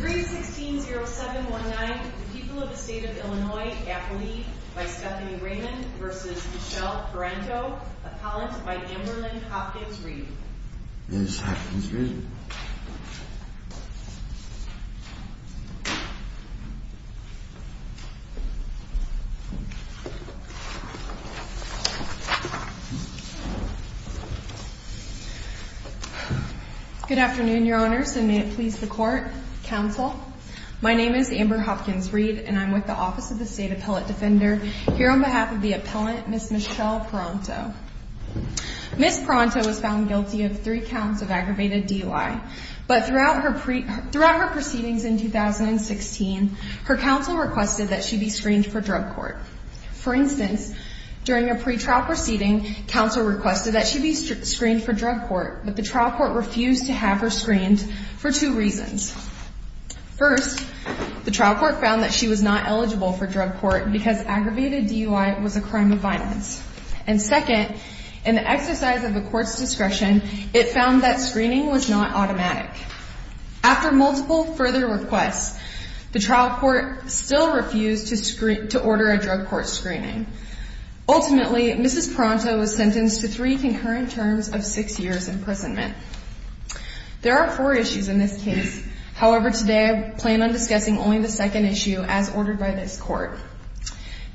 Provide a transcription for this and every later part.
3-16-07-19 The People of the State of Illinois Appellee by Stephanie Raymond v. Michelle Paranto Appellant by Amber Lynn Hopkins-Reid Good afternoon, Your Honors, and may it please the Court, Counsel. My name is Amber Hopkins-Reid, and I'm with the Office of the State Appellate Defender here on behalf of the Appellant, Ms. Michelle Paranto. Ms. Paranto was found guilty of three counts of aggravated DUI, but throughout her proceedings in 2016, her counsel requested that she be screened for drug court. For instance, during a pretrial proceeding, counsel requested that she be screened for drug court, but the trial court refused to have her screened for two reasons. First, the trial court found that she was not eligible for drug court because aggravated DUI was a crime of violence. And second, in the exercise of the court's discretion, it found that screening was not automatic. After multiple further requests, the trial court still refused to order a drug court screening. Ultimately, Ms. Paranto was sentenced to three concurrent terms of six years' imprisonment. There are four issues in this case. However, today I plan on discussing only the second issue as ordered by this Court.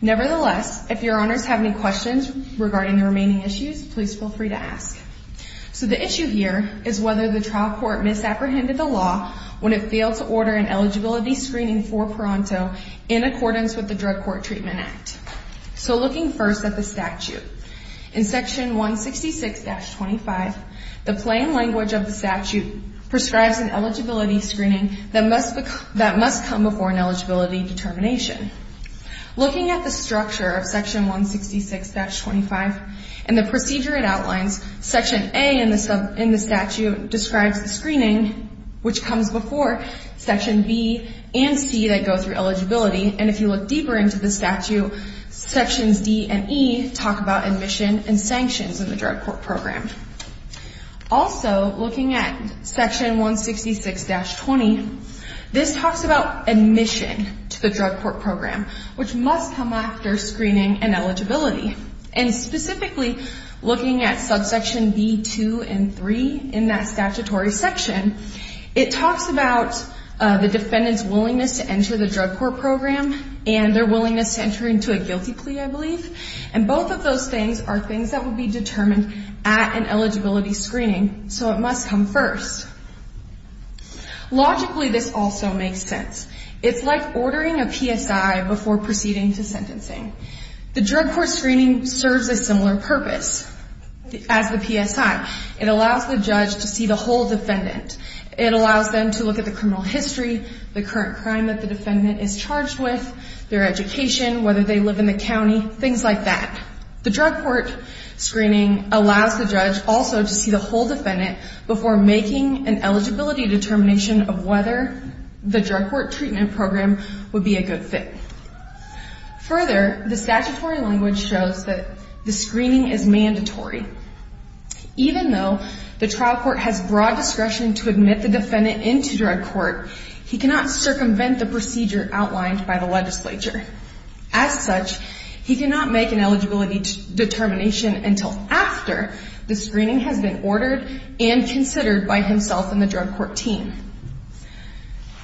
Nevertheless, if Your Honors have any questions regarding the remaining issues, please feel free to ask. So the issue here is whether the trial court misapprehended the law when it failed to order an eligibility screening for Paranto in accordance with the Drug Court Treatment Act. So looking first at the statute, in Section 166-25, the plain language of the statute prescribes an eligibility screening that must come before an eligibility determination. Looking at the structure of Section 166-25 and the procedure it outlines, Section A in the statute describes the screening which comes before Section B and C that go through eligibility. And if you look deeper into the statute, Sections D and E talk about admission and sanctions in the drug court program. Also, looking at Section 166-20, this talks about admission to the drug court program, which must come after screening and eligibility. And specifically, looking at Subsections B, 2, and 3 in that statutory section, it talks about the defendant's willingness to enter the drug court program and their willingness to enter into a guilty plea, I believe. And both of those things are things that would be determined at an eligibility screening, so it must come first. Logically, this also makes sense. It's like ordering a PSI before proceeding to sentencing. The drug court screening serves a similar purpose as the PSI. It allows the judge to see the whole defendant. It allows them to look at the criminal history, the current crime that the defendant is charged with, their education, whether they live in the county, things like that. The drug court screening allows the judge also to see the whole defendant before making an eligibility determination of whether the drug court treatment program would be a good fit. Further, the statutory language shows that the screening is mandatory. Even though the trial court has broad discretion to admit the defendant into drug court, he cannot circumvent the procedure outlined by the legislature. As such, he cannot make an eligibility determination until after the screening has been ordered and considered by himself and the drug court team.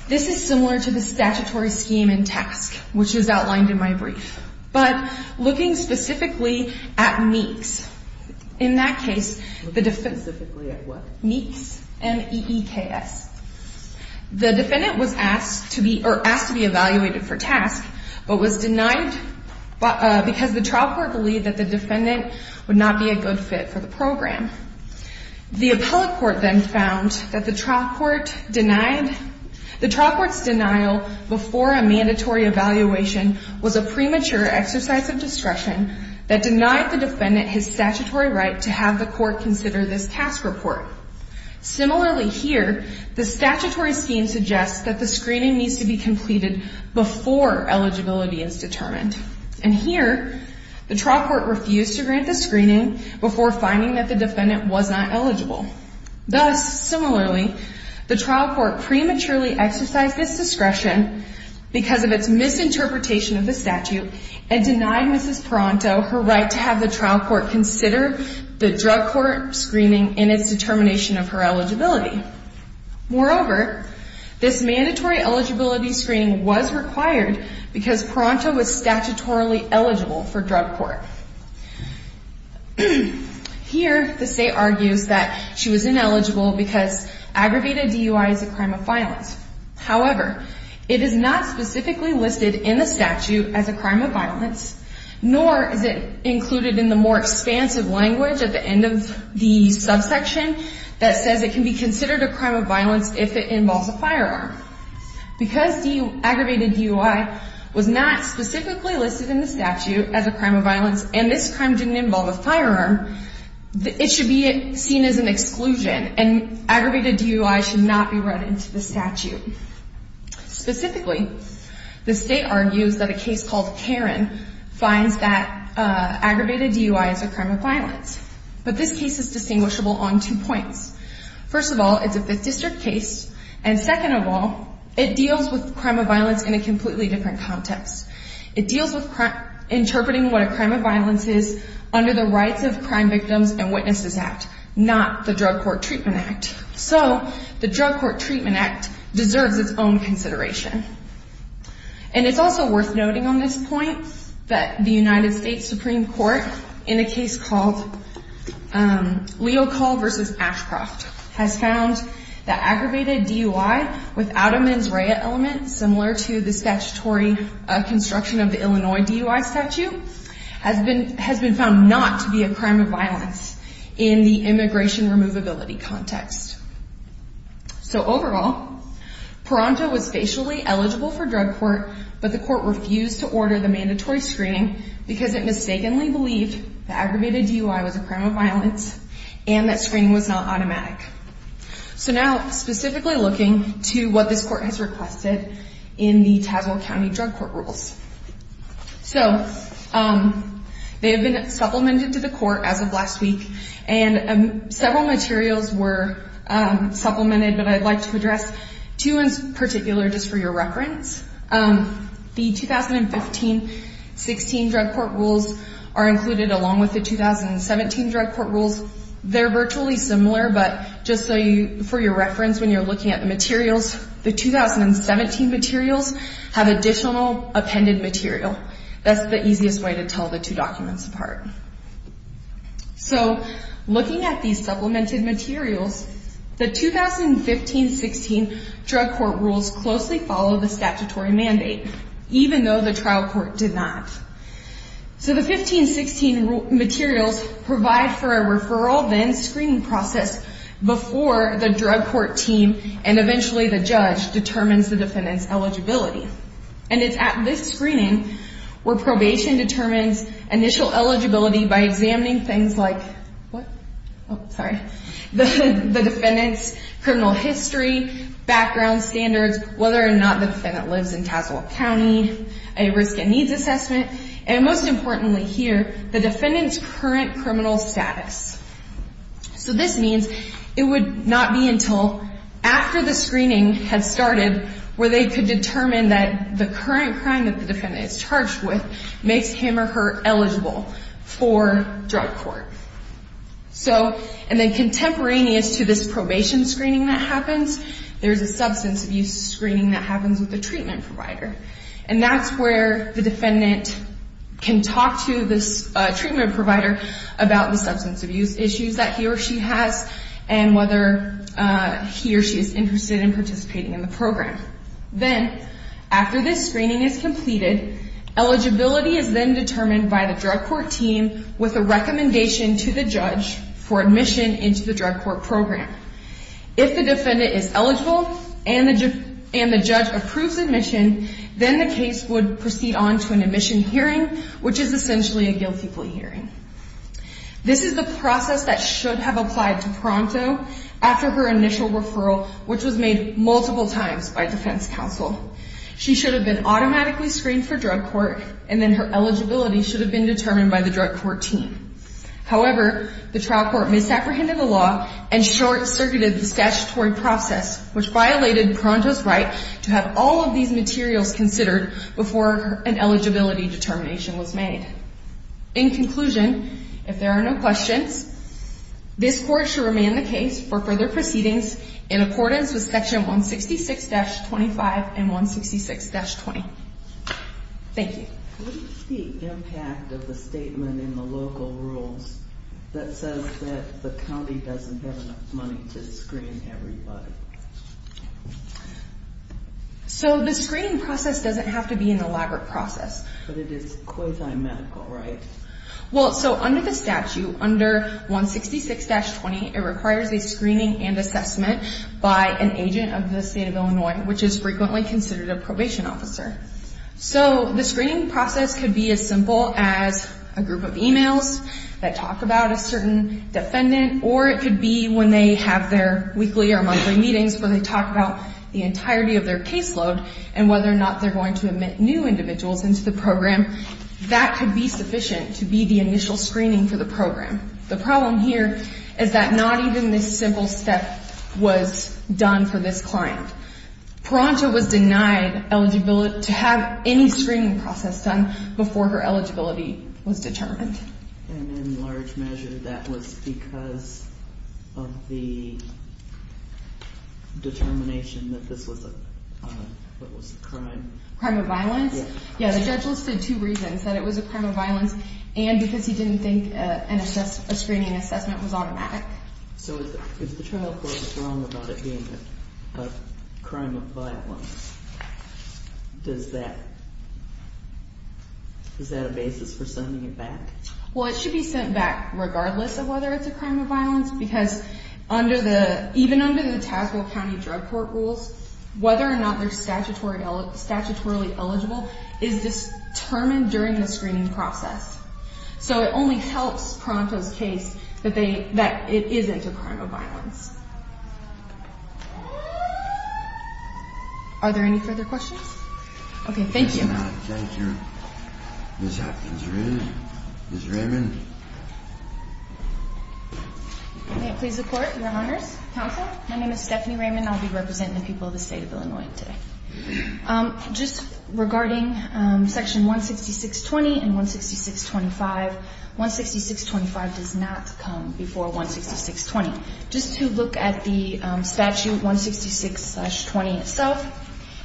This is similar to the statutory scheme in TASC, which is outlined in my brief. But looking specifically at MEEKS, in that case, the defendant... Specifically at what? MEEKS, M-E-E-K-S. The defendant was asked to be evaluated for TASC, but was denied because the trial court believed that the defendant would not be a good fit for the program. The appellate court then found that the trial court denied... The trial court's denial before a mandatory evaluation was a premature exercise of discretion that denied the defendant his statutory right to have the court consider this TASC report. Similarly here, the statutory scheme suggests that the screening needs to be completed before eligibility is determined. And here, the trial court refused to grant the screening before finding that the defendant was not eligible. Thus, similarly, the trial court prematurely exercised this discretion because of its misinterpretation of the statute and denied Mrs. Paranto her right to have the trial court consider the drug court screening in its determination of her eligibility. Moreover, this mandatory eligibility screening was required because Paranto was statutorily eligible for drug court. Here, the state argues that she was ineligible because aggravated DUI is a crime of violence. That says it can be considered a crime of violence if it involves a firearm. Because aggravated DUI was not specifically listed in the statute as a crime of violence and this crime didn't involve a firearm, it should be seen as an exclusion and aggravated DUI should not be run into the statute. Specifically, the state argues that a case called Karen finds that aggravated DUI is a crime of violence. But this case is distinguishable on two points. First of all, it's a Fifth District case. And second of all, it deals with crime of violence in a completely different context. It deals with interpreting what a crime of violence is under the Rights of Crime Victims and Witnesses Act, not the Drug Court Treatment Act. So, the Drug Court Treatment Act deserves its own consideration. And it's also worth noting on this point that the United States Supreme Court in a case called Leocal v. Ashcroft has found that aggravated DUI without a mens rea element similar to the statutory construction of the Illinois DUI statute has been found not to be a crime of violence in the immigration removability context. So, overall, Peralta was facially eligible for drug court, but the court refused to order the mandatory screening because it mistakenly believed that aggravated DUI was a crime of violence and that screening was not automatic. So now, specifically looking to what this court has requested in the Tazewell County Drug Court Rules. So, they have been supplemented to the court as of last week. And several materials were supplemented, but I'd like to address two in particular just for your reference. The 2015-16 Drug Court Rules are included along with the 2017 Drug Court Rules. They're virtually similar, but just for your reference when you're looking at the materials, the 2017 materials have additional appended material. That's the easiest way to tell the two documents apart. So, looking at these supplemented materials, the 2015-16 Drug Court Rules closely follow the statutory mandate, even though the trial court did not. So, the 2015-16 materials provide for a referral then screening process before the drug court team and eventually the judge determines the defendant's eligibility. And it's at this screening where probation determines initial eligibility by examining things like the defendant's criminal history, background standards, whether or not the defendant lives in Tazewell County, a risk and needs assessment, and most importantly here, the defendant's current criminal status. So, this means it would not be until after the screening has started where they could determine that the current crime that the defendant is charged with makes him or her eligible for drug court. So, and then contemporaneous to this probation screening that happens, there's a substance abuse screening that happens with the treatment provider. And that's where the defendant can talk to this treatment provider about the substance abuse issues that he or she has and whether he or she is interested in participating in the program. Then, after this screening is completed, eligibility is then determined by the drug court team with a recommendation to the judge for admission into the drug court program. If the defendant is eligible and the judge approves admission, then the case would proceed on to an admission hearing, which is essentially a guilty plea hearing. This is the process that should have applied to Pronto after her initial referral, which was made multiple times by defense counsel. She should have been automatically screened for drug court and then her eligibility should have been determined by the drug court team. However, the trial court misapprehended the law and short-circuited the statutory process, which violated Pronto's right to have all of these materials considered before an eligibility determination was made. In conclusion, if there are no questions, this court should remand the case for further proceedings in accordance with section 166-25 and 166-20. Thank you. What is the impact of the statement in the local rules that says that the county doesn't have enough money to screen everybody? The screening process doesn't have to be an elaborate process. But it is quasi-medical, right? Under the statute, under 166-20, it requires a screening and assessment by an agent of the state of Illinois, which is frequently considered a probation officer. So the screening process could be as simple as a group of emails that talk about a certain defendant, or it could be when they have their weekly or monthly meetings where they talk about the entirety of their caseload and whether or not they're going to admit new individuals into the program. That could be sufficient to be the initial screening for the program. The problem here is that not even this simple step was done for this client. Pronto was denied eligibility to have any screening process done before her eligibility was determined. And in large measure, that was because of the determination that this was a crime? Crime of violence? Yes. Yeah, the judge listed two reasons, that it was a crime of violence and because he didn't think a screening and assessment was automatic. So if the trial court was wrong about it being a crime of violence, does that – is that a basis for sending it back? Well, it should be sent back regardless of whether it's a crime of violence because under the – even under the Tazewell County Drug Court rules, whether or not they're statutorily eligible is determined during the screening process. So it only helps Pronto's case that they – that it isn't a crime of violence. Are there any further questions? Okay. Thank you. Thank you. Ms. Atkins. Ms. Raymond. May it please the Court, Your Honors, Counsel. My name is Stephanie Raymond. I'll be representing the people of the State of Illinois today. Just regarding Section 166.20 and 166.25, 166.25 does not come before 166.20. Just to look at the statute 166.20 itself,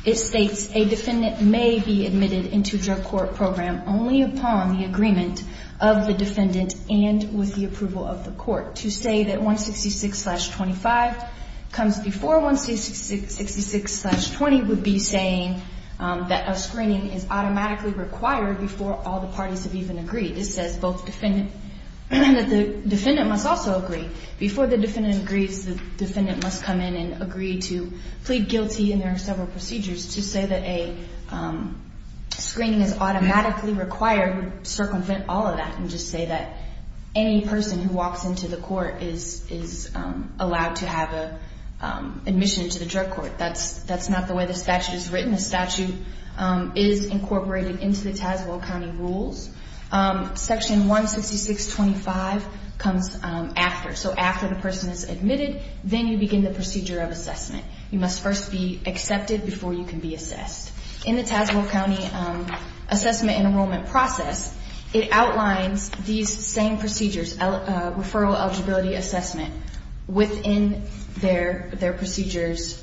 it states a defendant may be admitted into drug court program only upon the agreement of the defendant and with the approval of the court. To say that 166.25 comes before 166.20 would be saying that a screening is automatically required before all the parties have even agreed. It says both defendant – that the defendant must also agree. Before the defendant agrees, the defendant must come in and agree to plead guilty, and there are several procedures. To say that a screening is automatically required would circumvent all of that and just say that any person who walks into the court is allowed to have an admission to the drug court. That's not the way the statute is written. The statute is incorporated into the Tazewell County rules. Section 166.25 comes after. So after the person is admitted, then you begin the procedure of assessment. You must first be accepted before you can be assessed. In the Tazewell County assessment and enrollment process, it outlines these same procedures, referral eligibility assessment, within their procedures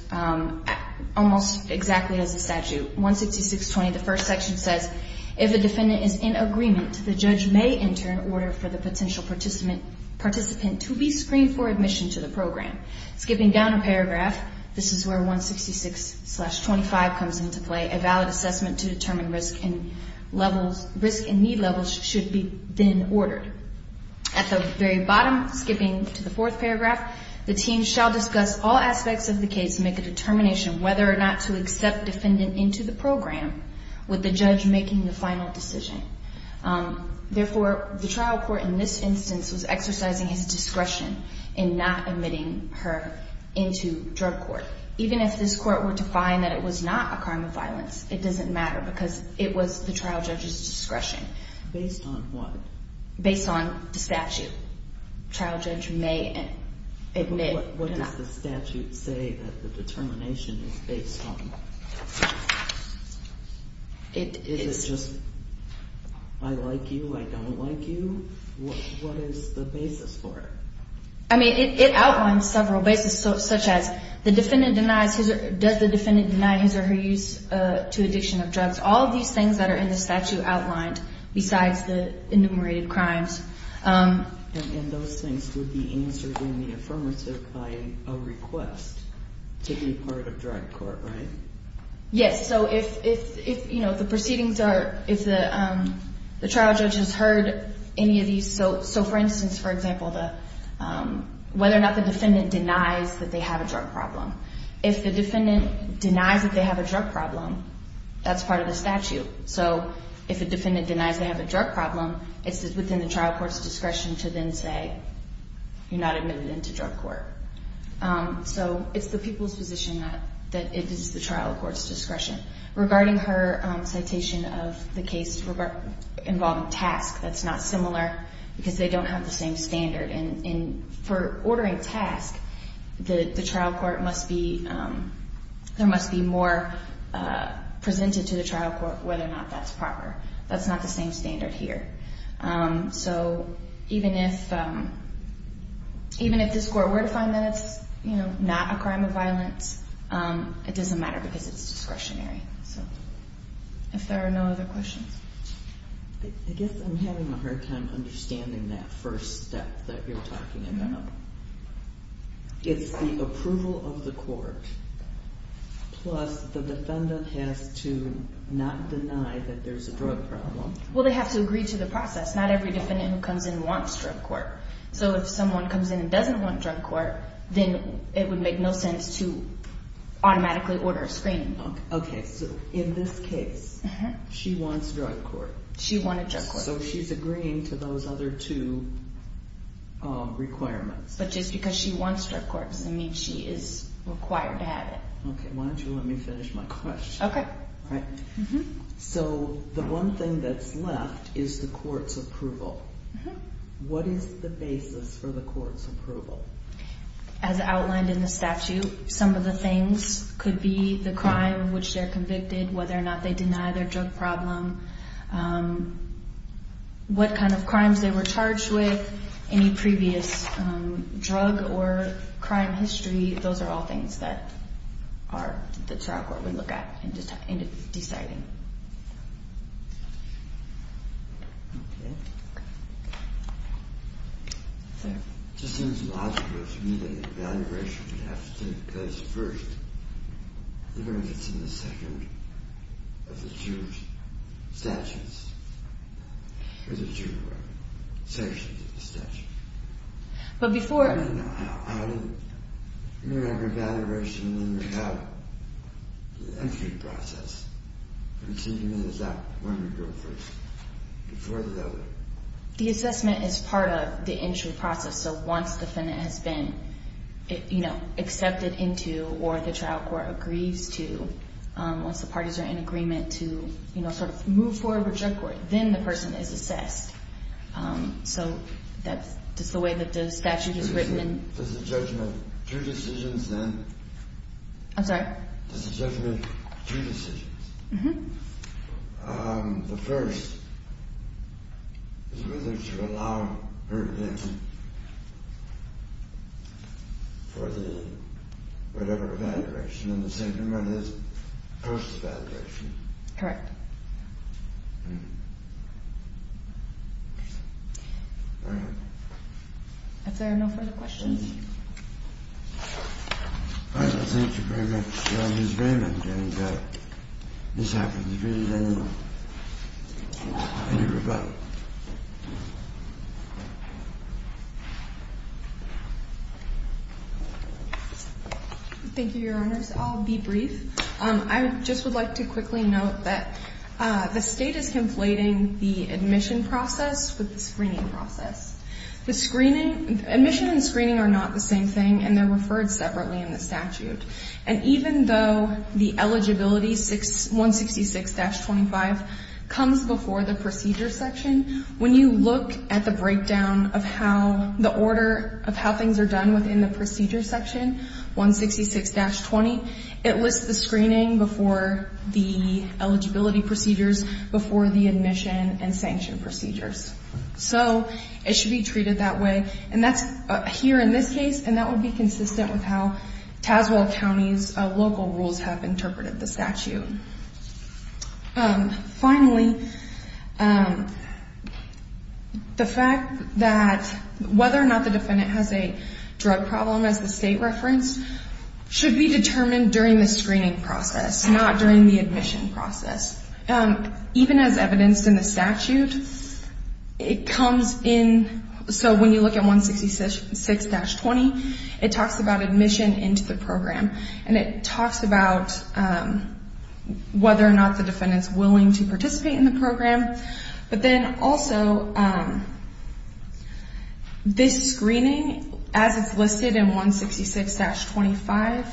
almost exactly as the statute. 166.20, the first section says, if a defendant is in agreement, the judge may enter an order for the potential participant to be screened for admission to the program. Skipping down a paragraph, this is where 166.25 comes into play. A valid assessment to determine risk and levels – risk and need levels should be then ordered. At the very bottom, skipping to the fourth paragraph, the team shall discuss all aspects of the case and make a determination whether or not to accept defendant into the program with the judge making the final decision. Therefore, the trial court in this instance was exercising his discretion in not admitting her into drug court. Even if this court were to find that it was not a crime of violence, it doesn't matter because it was the trial judge's discretion. Based on what? Based on the statute. Trial judge may admit or not. What does the statute say that the determination is based on? Is it just, I like you, I don't like you? What is the basis for it? I mean, it outlines several bases such as the defendant denies his or her use to addiction of drugs. All of these things that are in the statute outlined besides the enumerated crimes. And those things would be answered in the affirmative by a request to be part of drug court, right? Yes, so if the proceedings are – if the trial judge has heard any of these – so for instance, for example, whether or not the defendant denies that they have a drug problem. If the defendant denies that they have a drug problem, that's part of the statute. So if a defendant denies they have a drug problem, it's within the trial court's discretion to then say you're not admitted into drug court. So it's the people's position that it is the trial court's discretion. Regarding her citation of the case involving task, that's not similar because they don't have the same standard. And for ordering task, the trial court must be – there must be more presented to the trial court whether or not that's proper. That's not the same standard here. So even if this court were to find that it's not a crime of violence, it doesn't matter because it's discretionary. If there are no other questions. I guess I'm having a hard time understanding that first step that you're talking about. It's the approval of the court plus the defendant has to not deny that there's a drug problem. Well, they have to agree to the process. Not every defendant who comes in wants drug court. So if someone comes in and doesn't want drug court, then it would make no sense to automatically order a screening. Okay, so in this case, she wants drug court. She wanted drug court. So she's agreeing to those other two requirements. But just because she wants drug court doesn't mean she is required to have it. Okay, why don't you let me finish my question. Okay. All right. So the one thing that's left is the court's approval. What is the basis for the court's approval? As outlined in the statute, some of the things could be the crime in which they're convicted, whether or not they deny their drug problem, what kind of crimes they were charged with, any previous drug or crime history. Those are all things that the trial court would look at in deciding. Okay. Sir. It just seems logical to me that the evaluation would have to take place first, even if it's in the second of the two statutes, or the two sections of the statute. But before... I don't know. I don't remember evaluation without the entry process. It seems to me that that one would go first before the other. The assessment is part of the entry process. So once the defendant has been accepted into or the trial court agrees to, once the parties are in agreement to sort of move forward with drug court, then the person is assessed. So that's just the way that the statute is written. Does the judgment have two decisions, then? I'm sorry? Does the judgment have two decisions? Mm-hmm. The first is whether to allow her in for the whatever evaluation, and the second one is post-evaluation. Correct. All right. If there are no further questions. All right. Thank you very much, Ms. Raymond. And this happens to be the end of the rebuttal. Thank you, Your Honors. I'll be brief. I just would like to quickly note that the state is conflating the admission process with the screening process. Admission and screening are not the same thing, and they're referred separately in the statute. And even though the eligibility, 166-25, comes before the procedure section, when you look at the breakdown of how the order of how things are done within the procedure section, 166-20, it lists the screening before the eligibility procedures before the admission and sanction procedures. So it should be treated that way. And that's here in this case, and that would be consistent with how Tazewell County's local rules have interpreted the statute. Finally, the fact that whether or not the defendant has a drug problem, as the state referenced, should be determined during the screening process, not during the admission process. Even as evidenced in the statute, it comes in. So when you look at 166-20, it talks about admission into the program, and it talks about whether or not the defendant's willing to participate in the program. But then also, this screening, as it's listed in 166-25,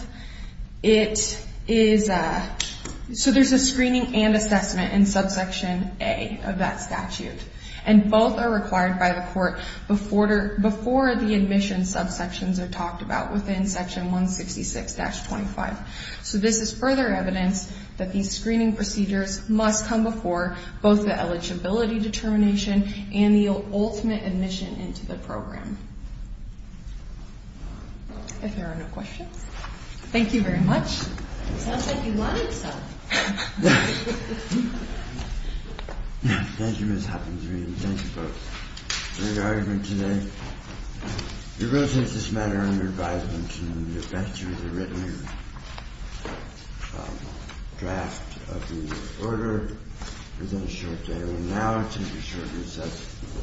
it is a so there's a screening and assessment in subsection A of that statute. And both are required by the court before the admission subsections are talked about within section 166-25. So this is further evidence that these screening procedures must come before both the eligibility determination and the ultimate admission into the program. If there are no questions. Thank you very much. Sounds like you wanted some. Thank you, Ms. Hopkins-Reid, and thank you both for your argument today. It really is just a matter of your advisement to me. You've read through the written draft of the order within a short time. And now I'll take a short recess.